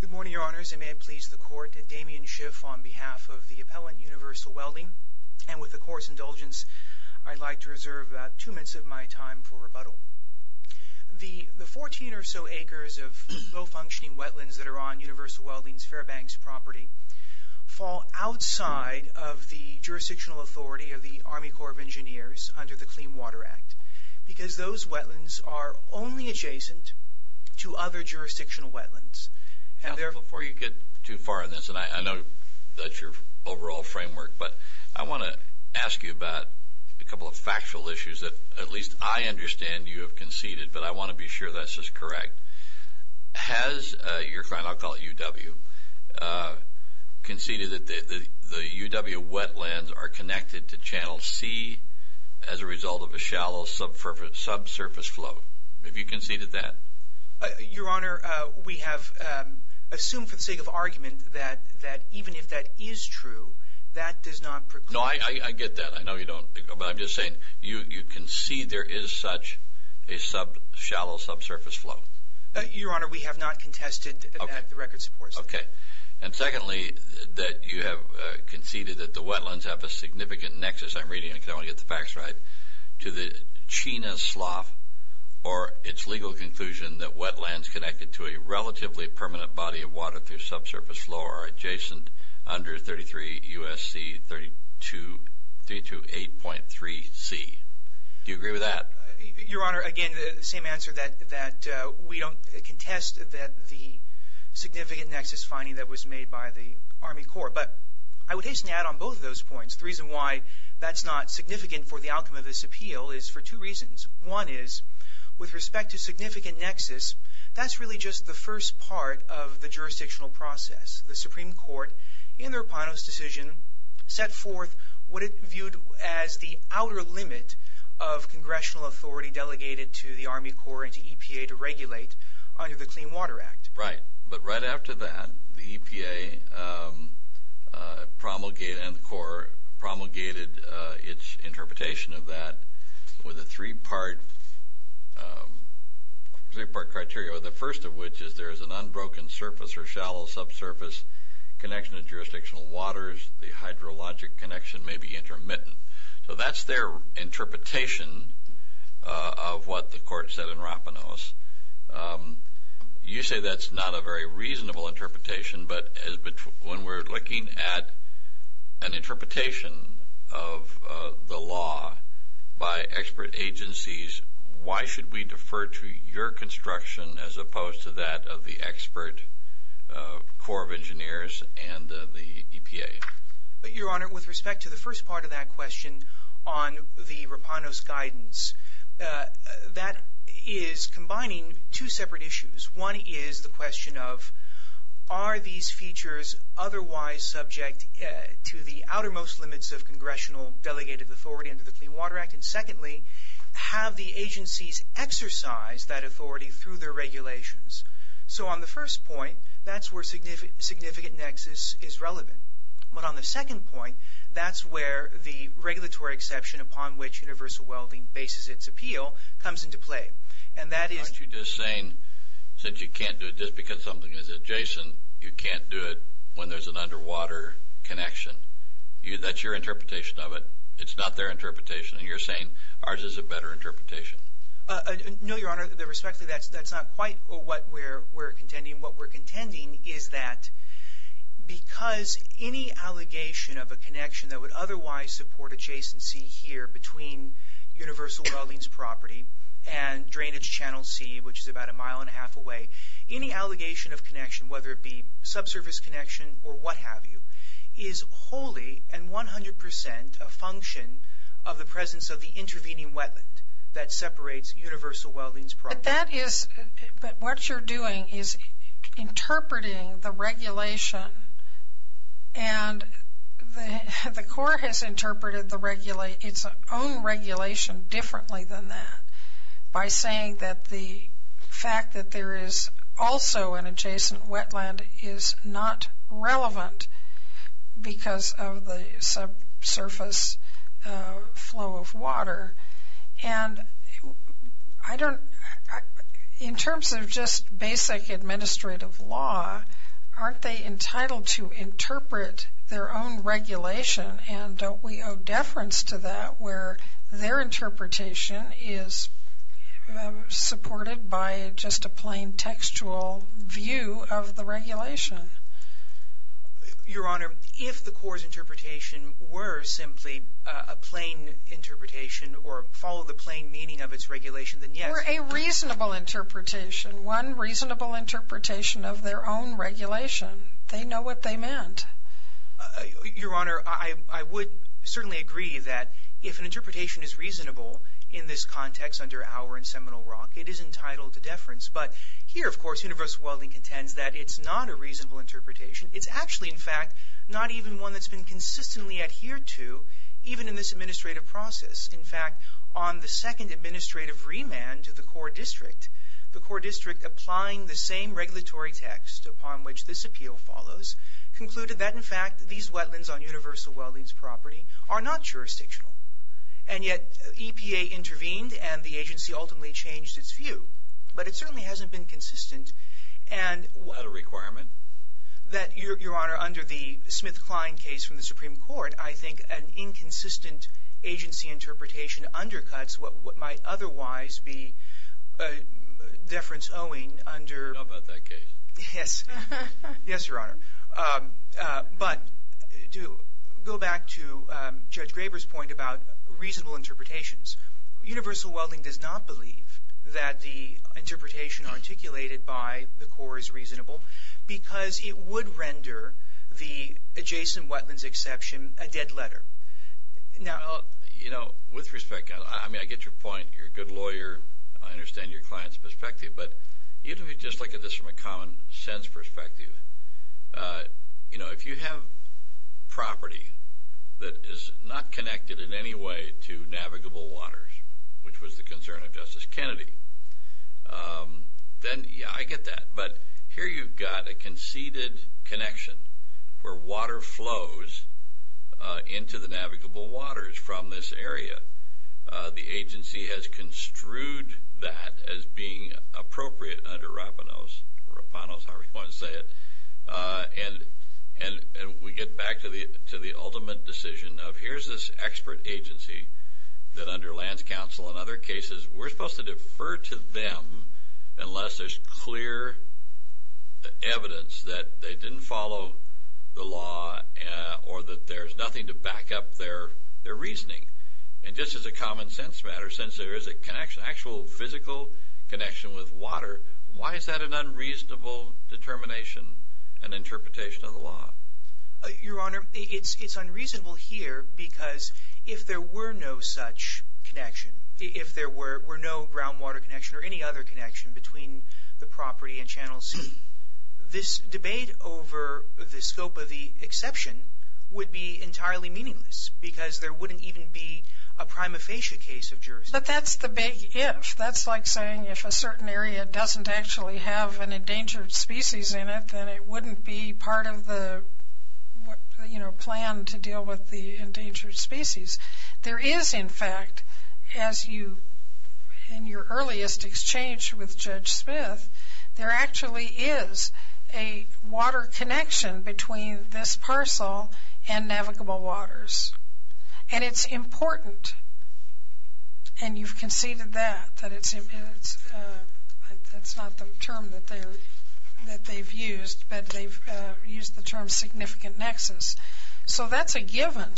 Good morning, Your Honors, and may it please the Court that Damien Schiff on behalf of the appellant, Universal Welding, and with the Court's indulgence, I'd like to reserve about two minutes of my time for rebuttal. The 14 or so acres of low-functioning wetlands that are on Universal Welding's Fairbanks property fall outside of the jurisdictional authority of the Army Corps of Engineers under the Clean Water Act, because those wetlands are only adjacent to other jurisdictional wetlands. JUSTICE KENNEDY. Counselor, before you get too far on this, and I know that's your overall framework, but I want to ask you about a couple of factual issues that at least I understand you have conceded, but I want to be sure that's just correct. Has your client, I'll call it UW, conceded that the UW wetlands are connected to Channel C as a result of a shallow subsurface flow? Have you conceded that? MR. HENRY. Your Honor, we have assumed for the sake of argument that even if that is true, that does not preclude. JUSTICE KENNEDY. No, I get that. I know you don't, but I'm just saying, you concede there is such a shallow subsurface flow? HENRY. Your Honor, we have not contested that. The record supports that. JUSTICE KENNEDY. Okay. And secondly, that you have conceded that the wetlands have a significant nexus. I guess I'm reading it because I want to get the facts right, to the China Slough or its legal conclusion that wetlands connected to a relatively permanent body of water through subsurface flow are adjacent under 33 U.S.C. 328.3 C. Do you agree with that? MR. HENRY. Your Honor, again, the same answer that we don't contest that the significant nexus finding that was made by the Army Corps. But I would hasten to add on both of those points. The reason why that's not significant for the outcome of this appeal is for two reasons. One is, with respect to significant nexus, that's really just the first part of the jurisdictional process. The Supreme Court, in their Pano's decision, set forth what it viewed as the outer limit of congressional authority delegated to the Army Corps and to EPA to regulate under the Clean Water Act. MR. HENRY. And EPA promulgated its interpretation of that with a three-part criteria, the first of which is there is an unbroken surface or shallow subsurface connection to jurisdictional waters. The hydrologic connection may be intermittent. So that's their interpretation of what the Court said in Rapinoe's. You say that's not a very reasonable interpretation, but when we're looking at an interpretation of the law by expert agencies, why should we defer to your construction as opposed to that of the expert Corps of Engineers and the EPA? MR. HENRY. Well, in terms of the Rapinoe's guidance, that is combining two separate issues. One is the question of, are these features otherwise subject to the outermost limits of congressional delegated authority under the Clean Water Act? And secondly, have the agencies exercised that authority through their regulations? So on the first point, that's where significant nexus is relevant, but on the second point, that's where the regulatory exception upon which universal welding bases its appeal comes into play. MR. HOGAN. Aren't you just saying, since you can't do it just because something is adjacent, you can't do it when there's an underwater connection? That's your interpretation of it. It's not their interpretation. And you're saying ours is a better interpretation. MR. HENRY. No, Your Honor. Respectfully, that's not quite what we're contending. What we're contending is that because any allegation of a connection that would otherwise support adjacency here between universal welding's property and drainage channel C, which is about a mile and a half away, any allegation of connection, whether it be subsurface connection or what have you, is wholly and 100 percent a function of the presence of the intervening wetland that separates universal welding's property. But what you're doing is interpreting the regulation. And the Corps has interpreted its own regulation differently than that by saying that the fact that there is also an adjacent wetland is not relevant because of the subsurface flow of water. And in terms of just basic administrative law, aren't they entitled to interpret their own regulation? And don't we owe deference to that, where their interpretation is supported by just a plain textual view of the regulation? MR. GOLDSMITH. Or a reasonable interpretation, one reasonable interpretation of their own regulation. They know what they meant. MR. GOLDSMITH. Your Honor, I would certainly agree that if an interpretation is reasonable in this context under our and Seminole Rock, it is entitled to deference. But here, of course, universal welding contends that it's not a reasonable interpretation. It's actually, in fact, not even one that's been consistently adhered to, even in this administrative process. In fact, on the second administrative remand to the core district, the core district, applying the same regulatory text upon which this appeal follows, concluded that, in fact, these wetlands on universal welding's property are not jurisdictional. And yet, EPA intervened, and the agency ultimately changed its view. But it certainly hasn't been consistent. And – MR. GOLDSMITH. What a requirement. MR. GOLDSMITH. I would argue that, Your Honor, under the Smith-Klein case from the Supreme Court, I think an inconsistent agency interpretation undercuts what might otherwise be deference owing under – MR. SCHROEDER. How about that case? MR. GOLDSMITH. Yes. Yes, Your Honor. But to go back to Judge Graber's point about reasonable interpretations, universal welding does not believe that the interpretation articulated by the core is reasonable because it would render the adjacent wetlands exception a dead letter. MR. SCHROEDER. Well, you know, with respect, I mean, I get your point. You're a good lawyer. I understand your client's perspective. But even if you just look at this from a common-sense perspective, you know, if you have property that is not connected in any way to navigable waters, which was the concern of Justice Kennedy, then yeah, I get that. But here you've got a conceded connection where water flows into the navigable waters from this area. The agency has construed that as being appropriate under Rapinos – Rapinos, however you want to call it – the ultimate decision of here's this expert agency that under lands counsel and other cases, we're supposed to defer to them unless there's clear evidence that they didn't follow the law or that there's nothing to back up their reasoning. And just as a common-sense matter, since there is a connection, actual physical connection with water, why is that an unreasonable determination and interpretation of the law? MR. KINGTON It's unreasonable here because if there were no such connection, if there were no groundwater connection or any other connection between the property and Channel C, this debate over the scope of the exception would be entirely meaningless because there wouldn't even be a prima facie case of jurisdiction. MS. KINGTON But that's the big if. That's like saying if a certain area doesn't actually have an endangered species in it, then it wouldn't be part of the, you know, plan to deal with the endangered species. There is, in fact, as you – in your earliest exchange with Judge Smith, there actually is a water connection between this parcel and navigable waters. And it's important. And you've conceded that, that it's – that's not the term that they're – that they've used, but they've used the term significant nexus. So that's a given.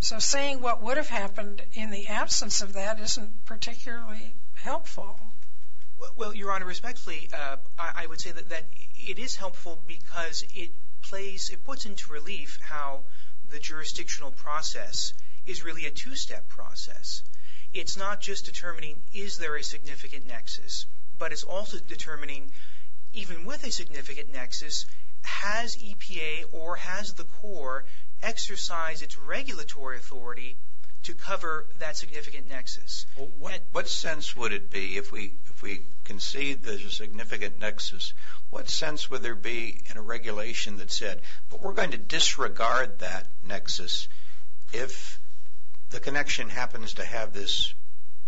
So saying what would have happened in the absence of that isn't particularly helpful. MR. KINGTON Well, Your Honor, respectfully, I would say that it is helpful because it plays – it puts into relief how the jurisdictional process is really a two-step process. It's not just determining is there a significant nexus, but it's also determining, even with a significant nexus, has EPA or has the Corps exercised its regulatory authority to cover that significant nexus. MR. ALITO What sense would it be if we concede there's a significant nexus, what sense would there be in a regulation that said, but we're going to disregard that nexus if the connection happens to have this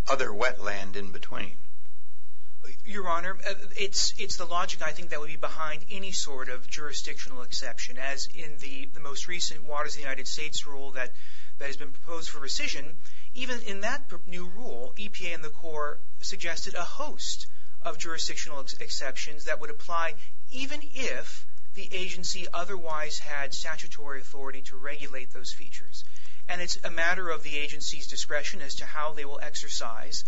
other wetland in between? MR. KINGTON Your Honor, it's the logic, I think, that would be behind any sort of jurisdictional exception, as in the most recent Waters of the United States rule that has been proposed for rescission. Even in that new rule, EPA and the Corps suggested a host of jurisdictional exceptions that would apply, even if the agency otherwise had statutory authority to regulate those features. And it's a matter of the agency's discretion as to how they will exercise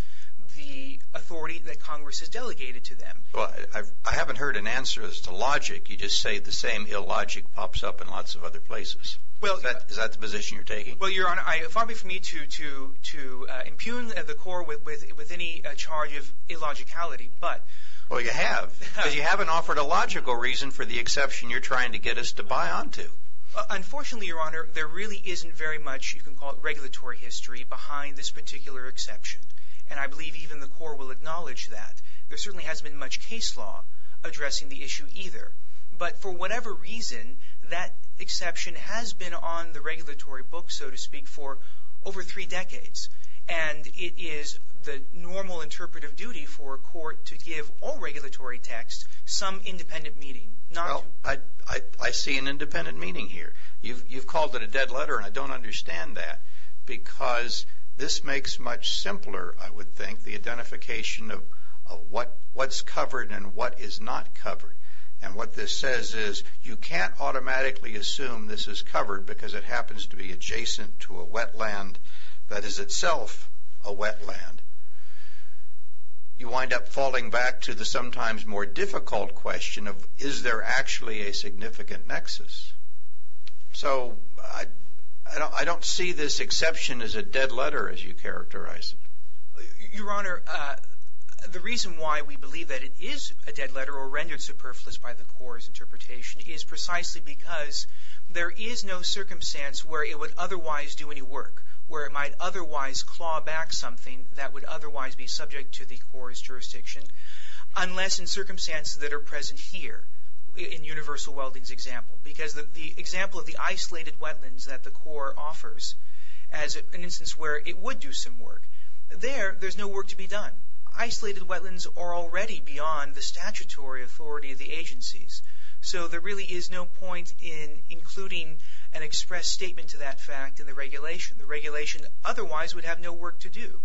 the authority that Congress has delegated to them. MR. ALITO I haven't heard an answer as to logic, you just say the same illogic pops up in lots of other places. MR. KINGTON Well – MR. ALITO Is that the position you're taking? MR. KINGTON Well, Your Honor, it would be for me to impugn the Corps with any charge of illogicality, but – MR. ALITO But you haven't offered a logical reason for the exception you're trying to get us to buy onto. MR. KINGTON Unfortunately, Your Honor, there really isn't very much, you can call it regulatory history, behind this particular exception. And I believe even the Corps will acknowledge that. There certainly hasn't been much case law addressing the issue either. But for whatever reason, that exception has been on the regulatory book, so to speak, for over three decades. And it is the normal interpretive duty for a court to give all regulatory texts some independent meaning. MR. KINGTON Well, I see an independent meaning here. You've called it a dead letter, and I don't understand that, because this makes much simpler, I would think, the identification of what's covered and what is not covered. And what this says is you can't automatically assume this is covered because it happens to be adjacent to a wetland that is itself a wetland. You wind up falling back to the sometimes more difficult question of, is there actually a significant nexus? So I don't see this exception as a dead letter, as you characterize it. MR. ALITO Your Honor, the reason why we believe that it is a dead letter or rendered superfluous by the Corps' interpretation is precisely because there is no circumstance where it would otherwise do any work, where it might otherwise claw back something that would otherwise be subject to the Corps' jurisdiction, unless in circumstances that are present here, in Universal Welding's example. Because the example of the isolated wetlands that the Corps offers as an instance where it would do some work, there, there's no work to be done. Isolated wetlands are already beyond the statutory authority of the agencies, so there really is no point in including an express statement to that fact in the regulation. The regulation otherwise would have no work to do,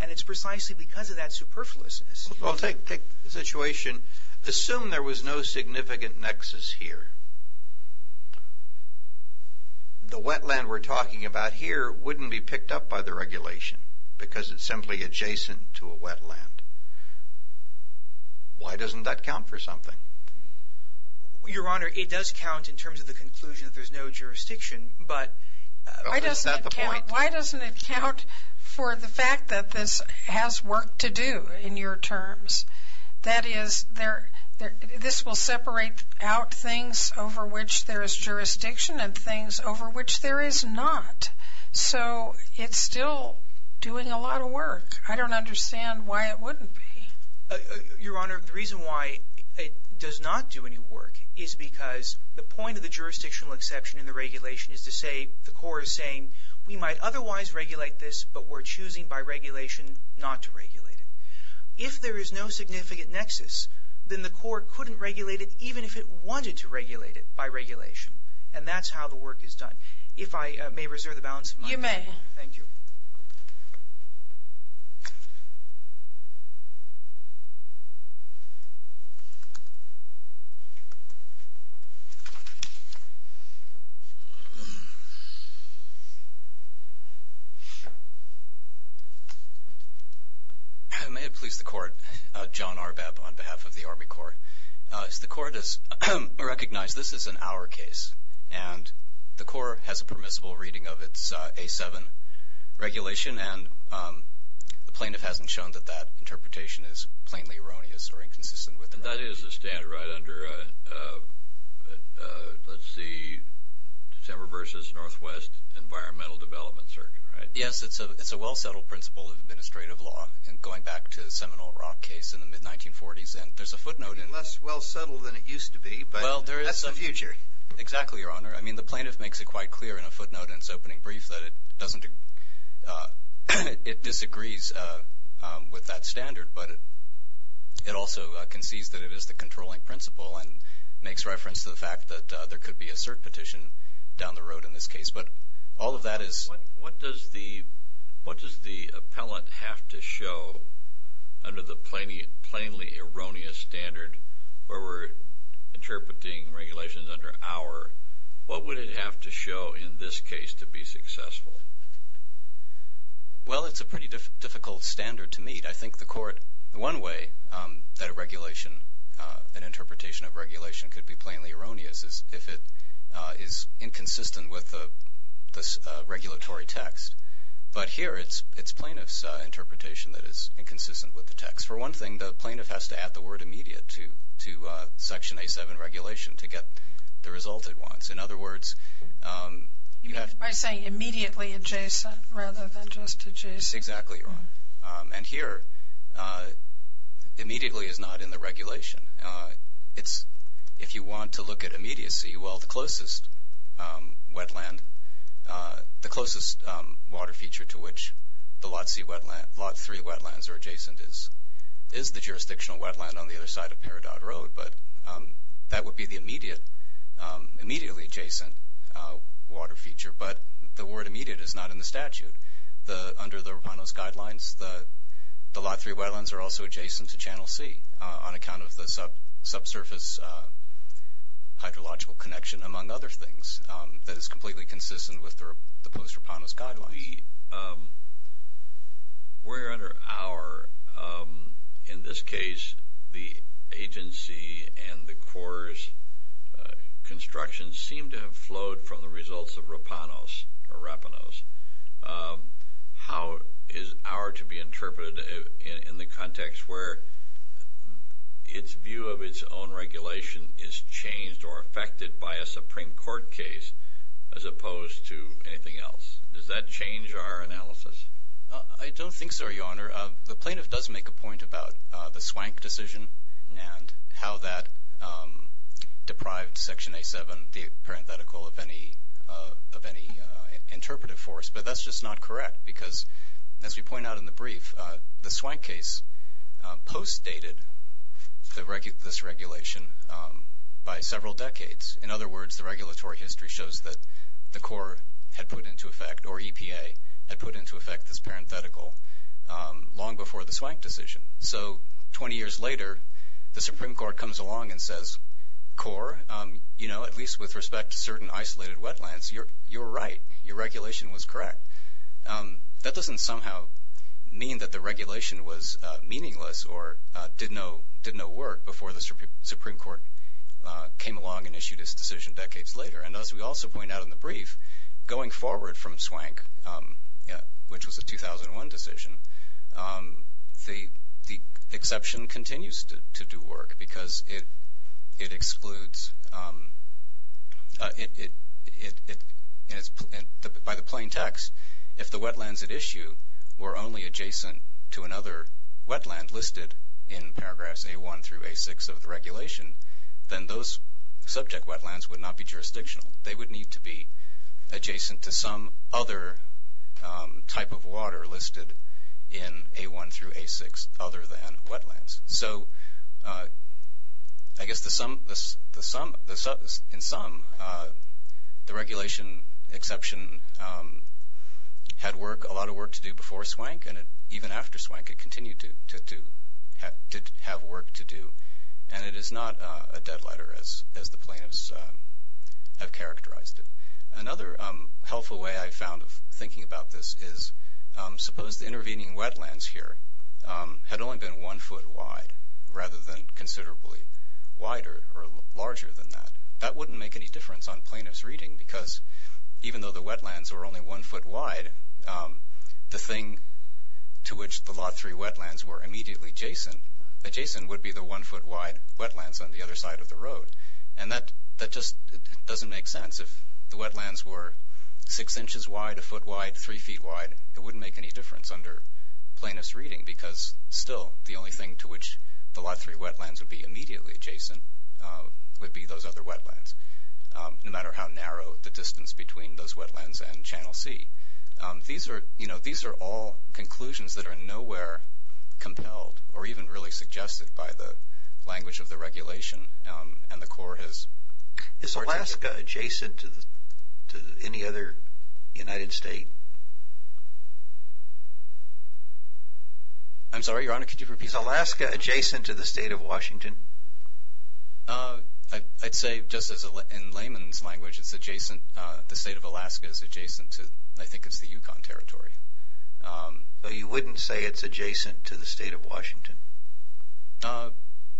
and it's precisely because of that superfluousness. MR. TURNER I'll take, take the situation. Assume there was no significant nexus here. The wetland we're talking about here wouldn't be picked up by the regulation because it's simply adjacent to a wetland. Why doesn't that count for something? MR. TURNER It does count in terms of the conclusion that there's no jurisdiction, but it's not MS. BENTON Why doesn't it count for the fact that this has work to do in your terms? That is, this will separate out things over which there is jurisdiction and things over which there is not. So it's still doing a lot of work. I don't understand why it wouldn't be. MR. TURNER The point of the jurisdictional exception in the regulation is to say, the Corps is saying we might otherwise regulate this, but we're choosing by regulation not to regulate it. If there is no significant nexus, then the Corps couldn't regulate it even if it wanted to regulate it by regulation. And that's how the work is done. If I may reserve the balance of my time. MS. BENTON You may. MR. TURNER I may have pleased the Court, John Arbab on behalf of the Army Corps. The Court has recognized this is an our case, and the Corps has a permissible reading of its A-7 regulation, and the plaintiff hasn't shown that that interpretation is plainly erroneous or inconsistent with the right. MR. TURNER Let's see, December versus Northwest Environmental Development Circuit, right? MR. BENTON Yes. It's a well-settled principle of administrative law, going back to the Seminole Rock case in the mid-1940s. And there's a footnote in it. MR. TURNER It's less well-settled than it used to be, but that's the future. MR. BENTON Exactly, Your Honor. I mean, the plaintiff makes it quite clear in a footnote in its opening brief that it disagrees with that standard, but it also concedes that it is the controlling principle and makes reference to the fact that there could be a cert petition down the road in this case. But all of that is... MR. TURNER What does the appellant have to show under the plainly erroneous standard where we're interpreting regulations under our, what would it have to show in this case to be successful? BENTON Well, it's a pretty difficult standard to meet. I think the court, one way that a regulation, an interpretation of regulation could be plainly erroneous is if it is inconsistent with the regulatory text. But here it's plaintiff's interpretation that is inconsistent with the text. For one thing, the plaintiff has to add the word immediate to Section A7 regulation to get the result it wants. In other words... MR. TURNER You mean by saying immediately adjacent rather than just adjacent? BENTON Exactly, Your Honor. And here, immediately is not in the regulation. If you want to look at immediacy, well, the closest wetland, the closest water feature to which the Lot C wetland, Lot 3 wetlands are adjacent is the jurisdictional wetland on the other side of Peridot Road. But that would be the immediate, immediately adjacent water feature. But the word immediate is not in the statute. Under the Rapanos Guidelines, the Lot 3 wetlands are also adjacent to Channel C on account of the subsurface hydrological connection, among other things, that is completely consistent with the post-Rapanos Guidelines. MR. TURNER We're under our... In this case, the agency and the Corps' construction seem to have flowed from the results of Rapanos or Rapanos. How is our to be interpreted in the context where its view of its own regulation is changed or affected by a Supreme Court case as opposed to anything else? Does that change our analysis? MR. BENTON I don't think so, Your Honor. The plaintiff does make a point about the Swank decision and how that deprived Section A-7, the parenthetical, of any interpretive force. But that's just not correct because, as we point out in the brief, the Swank case post-dated this regulation by several decades. In other words, the regulatory history shows that the Corps had put into effect, or EPA, had put into effect this parenthetical long before the Swank decision. So 20 years later, the Supreme Court comes along and says, Corps, you know, at least with respect to certain isolated wetlands, you're right. Your regulation was correct. That doesn't somehow mean that the regulation was meaningless or did no work before the Supreme Court came along and issued its decision decades later. And as we also point out in the brief, going forward from Swank, which was a 2001 decision, the exception continues to do work because it excludes, by the plaintext, if the wetlands at issue were only adjacent to another wetland listed in paragraphs A-1 through A-6 of the regulation, then those subject wetlands would not be jurisdictional. They would need to be adjacent to some other type of water listed in A-1 through A-6 other than wetlands. So I guess in sum, the regulation exception had a lot of work to do before Swank and even after Swank it continued to have work to do. And it is not a dead letter as the plaintiffs have characterized it. Another helpful way I found of thinking about this is, suppose the intervening wetlands here had only been one foot wide rather than considerably wider or larger than that. That wouldn't make any difference on plaintiff's reading because even though the wetlands were only one foot wide, the thing to which the Lot 3 wetlands were immediately adjacent would be the one foot wide wetlands on the other side of the road. And that just doesn't make sense. If the wetlands were six inches wide, a foot wide, three feet wide, it wouldn't make any difference under plaintiff's reading because still the only thing to which the Lot 3 wetlands would be immediately adjacent would be those other wetlands, no matter how narrow the distance between those wetlands and Channel C. These are all conclusions that are nowhere compelled or even really suggested by the language of the regulation and the CORE has... Is Alaska adjacent to any other United State? I'm sorry, Your Honor, could you repeat? Is Alaska adjacent to the state of Washington? I'd say just as in layman's language it's adjacent, the state of Alaska is adjacent to, I think it's the Yukon Territory. You wouldn't say it's adjacent to the state of Washington?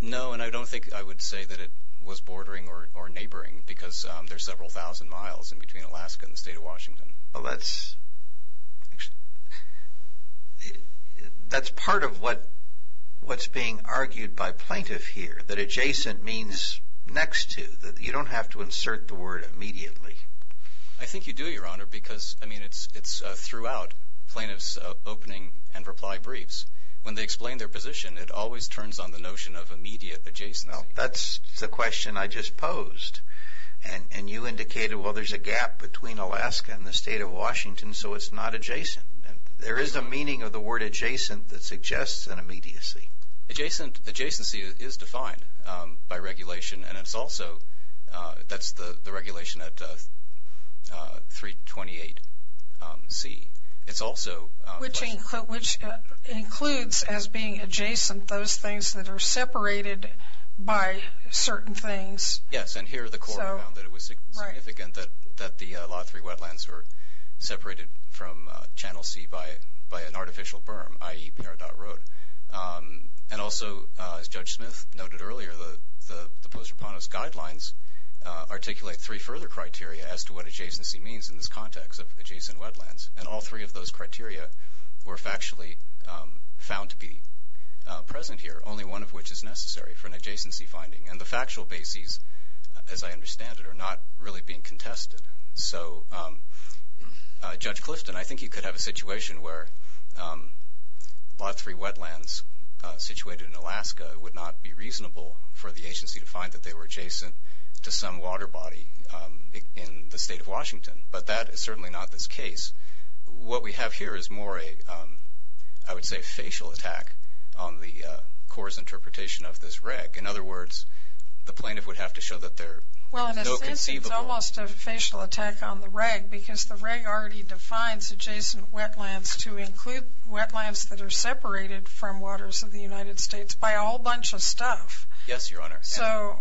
No, and I don't think I would say that it was bordering or neighboring because there's several thousand miles in between Alaska and the state of Washington. Well, that's part of what's being argued by plaintiff here, that adjacent means next to, that you don't have to insert the word immediately. I think you do, Your Honor, because I mean it's throughout plaintiff's opening and reply briefs. When they explain their position, it always turns on the notion of immediate adjacency. That's the question I just posed and you indicated, well, there's a gap between Alaska and the state of Washington, so it's not adjacent. There is a meaning of the word adjacent that suggests an immediacy. Adjacency is defined by regulation and it's also, that's the regulation at 328C. It's also... Which includes as being adjacent those things that are separated by certain things. Yes, and here the court found that it was significant that the Lot 3 wetlands were separated from Channel C by an artificial berm, i.e. Peridot Road. And also, as Judge Smith noted earlier, the Post-Raponos Guidelines articulate three further criteria as to what adjacency means in this context of adjacent wetlands, and all three of those criteria were factually found to be present here, only one of which is necessary for an adjacency finding. And the factual bases, as I understand it, are not really being contested. So Judge Clifton, I think you could have a situation where Lot 3 wetlands situated in Alaska would not be reasonable for the agency to find that they were adjacent to some water body in the state of Washington, but that is certainly not this case. What we have here is more a, I would say, facial attack on the court's interpretation of this reg. In other words, the plaintiff would have to show that there is no conceivable... Well, in a sense, it's almost a facial attack on the reg, because the reg already defines adjacent wetlands to include wetlands that are separated from waters of the United States by a whole bunch of stuff. Yes, Your Honor. So...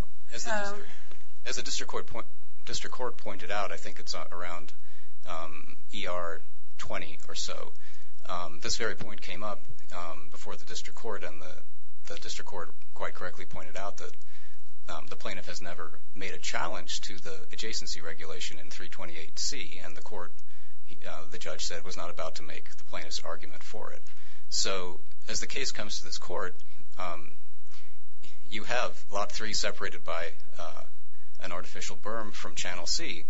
As the district court pointed out, I think it's around ER 20 or so, this very point came up before the district court, and the district court quite correctly pointed out that the plaintiff has never made a challenge to the adjacency regulation in 328C, and the court, the judge said, was not about to make the plaintiff's argument for it. So as the case comes to this court, you have Lot 3 separated by an artificial berm from Channel C.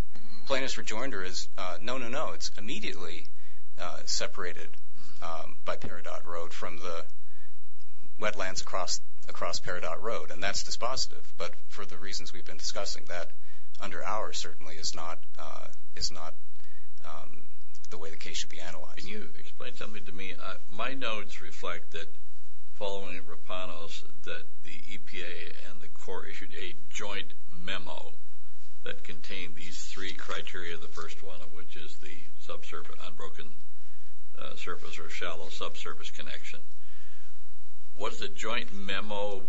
Plaintiff's rejoinder is, no, no, no. It's immediately separated by Peridot Road from the wetlands across Peridot Road, and that's dispositive. But for the reasons we've been discussing, that under ours certainly is not the way the case should be analyzed. Can you explain something to me? My notes reflect that following Rapanos, that the EPA and the court issued a joint memo that contained these three criteria, the first one of which is the unbroken surface or shallow subsurface connection. Was the joint memo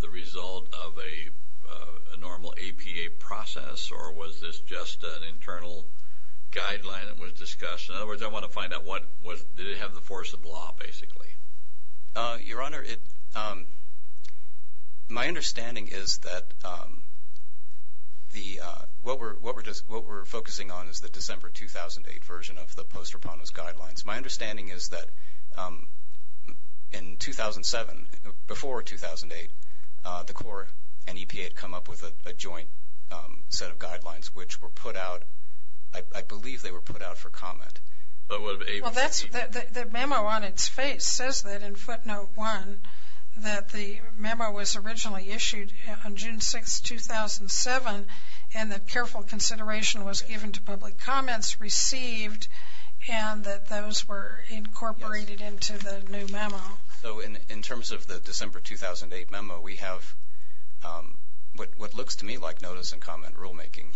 the result of a normal APA process, or was this just an internal guideline that was discussed? In other words, I want to find out, did it have the force of law, basically? Your Honor, my understanding is that what we're focusing on is the December 2008 version of the post-Rapanos guidelines. My understanding is that in 2007, before 2008, the court and EPA had come up with a joint set of guidelines, which were put out, I believe they were put out for comment. Well, the memo on its face says that in footnote one, that the memo was originally issued on June 6, 2007, and that careful consideration was given to public comments received, and that those were incorporated into the new memo. In terms of the December 2008 memo, we have what looks to me like notice and comment rulemaking.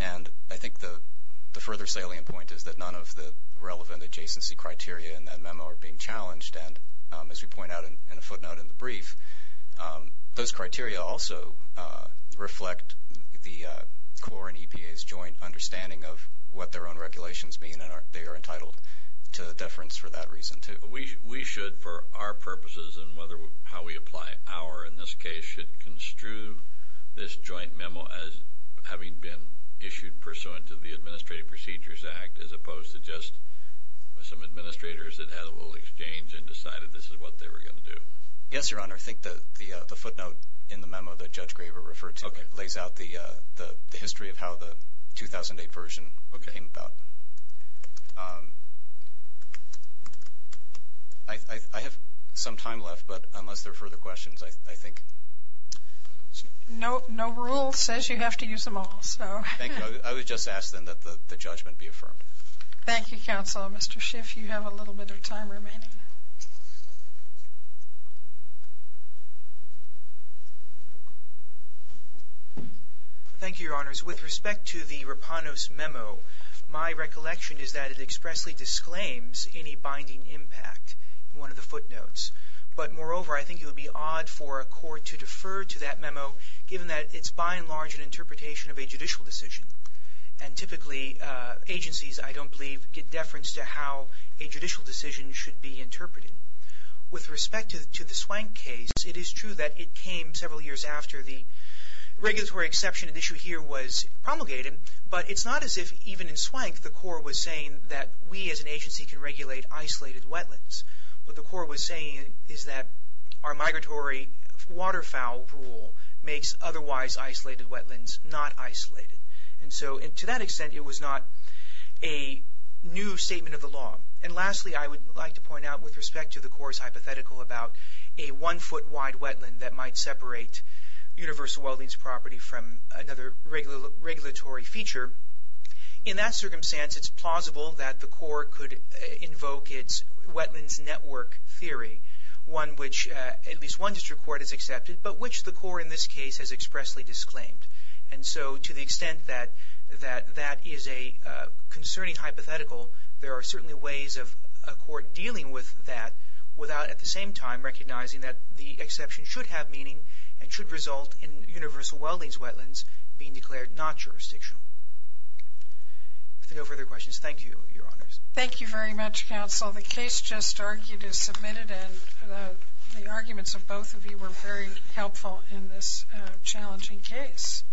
And I think the further salient point is that none of the relevant adjacency criteria in that memo are being challenged, and as we point out in a footnote in the brief, those criteria also reflect the court and EPA's joint understanding of what their own regulations mean, and they are entitled to deference for that reason, too. We should, for our purposes and how we apply our, in this case, should construe this joint memo as having been issued pursuant to the Administrative Procedures Act, as opposed to just some administrators that had a little exchange and decided this is what they were going to do. Yes, Your Honor. I think the footnote in the memo that Judge Graber referred to lays out the history of how the 2008 version came about. I have some time left, but unless there are further questions, I think... No rule says you have to use them all, so... Thank you. I would just ask then that the judgment be affirmed. Thank you, Counsel. Mr. Schiff, you have a little bit of time remaining. Thank you, Your Honors. With respect to the Rapanos memo, my recollection is that it expressly disclaims any binding impact in one of the footnotes. But moreover, I think it would be odd for a court to defer to that memo, given that it's by and large an interpretation of a judicial decision. And typically, agencies, I don't believe, get deference to how a judicial decision should be interpreted. With respect to the Swank case, it is true that it came several years after the regulatory exception and issue here was promulgated, but it's not as if even in Swank the court was saying that we as an agency can regulate isolated wetlands. What the court was saying is that our migratory waterfowl rule makes otherwise isolated wetlands not isolated. And so, to that extent, it was not a new statement of the law. And lastly, I would like to point out with respect to the court's hypothetical about a one-foot wide wetland that might separate universal wellings property from another regulatory feature. In that circumstance, it's plausible that the court could invoke its wetlands network theory, one which at least one district court has accepted, but which the court in this case has expressly disclaimed. And so, to the extent that that is a concerning hypothetical, there are certainly ways of a court dealing with that without at the same time recognizing that the exception should have meaning and should result in universal wellings wetlands being declared not jurisdictional. If there are no further questions, thank you, your honors. Thank you very much, counsel. The case just argued is submitted and the arguments of both of you were very helpful in this challenging case.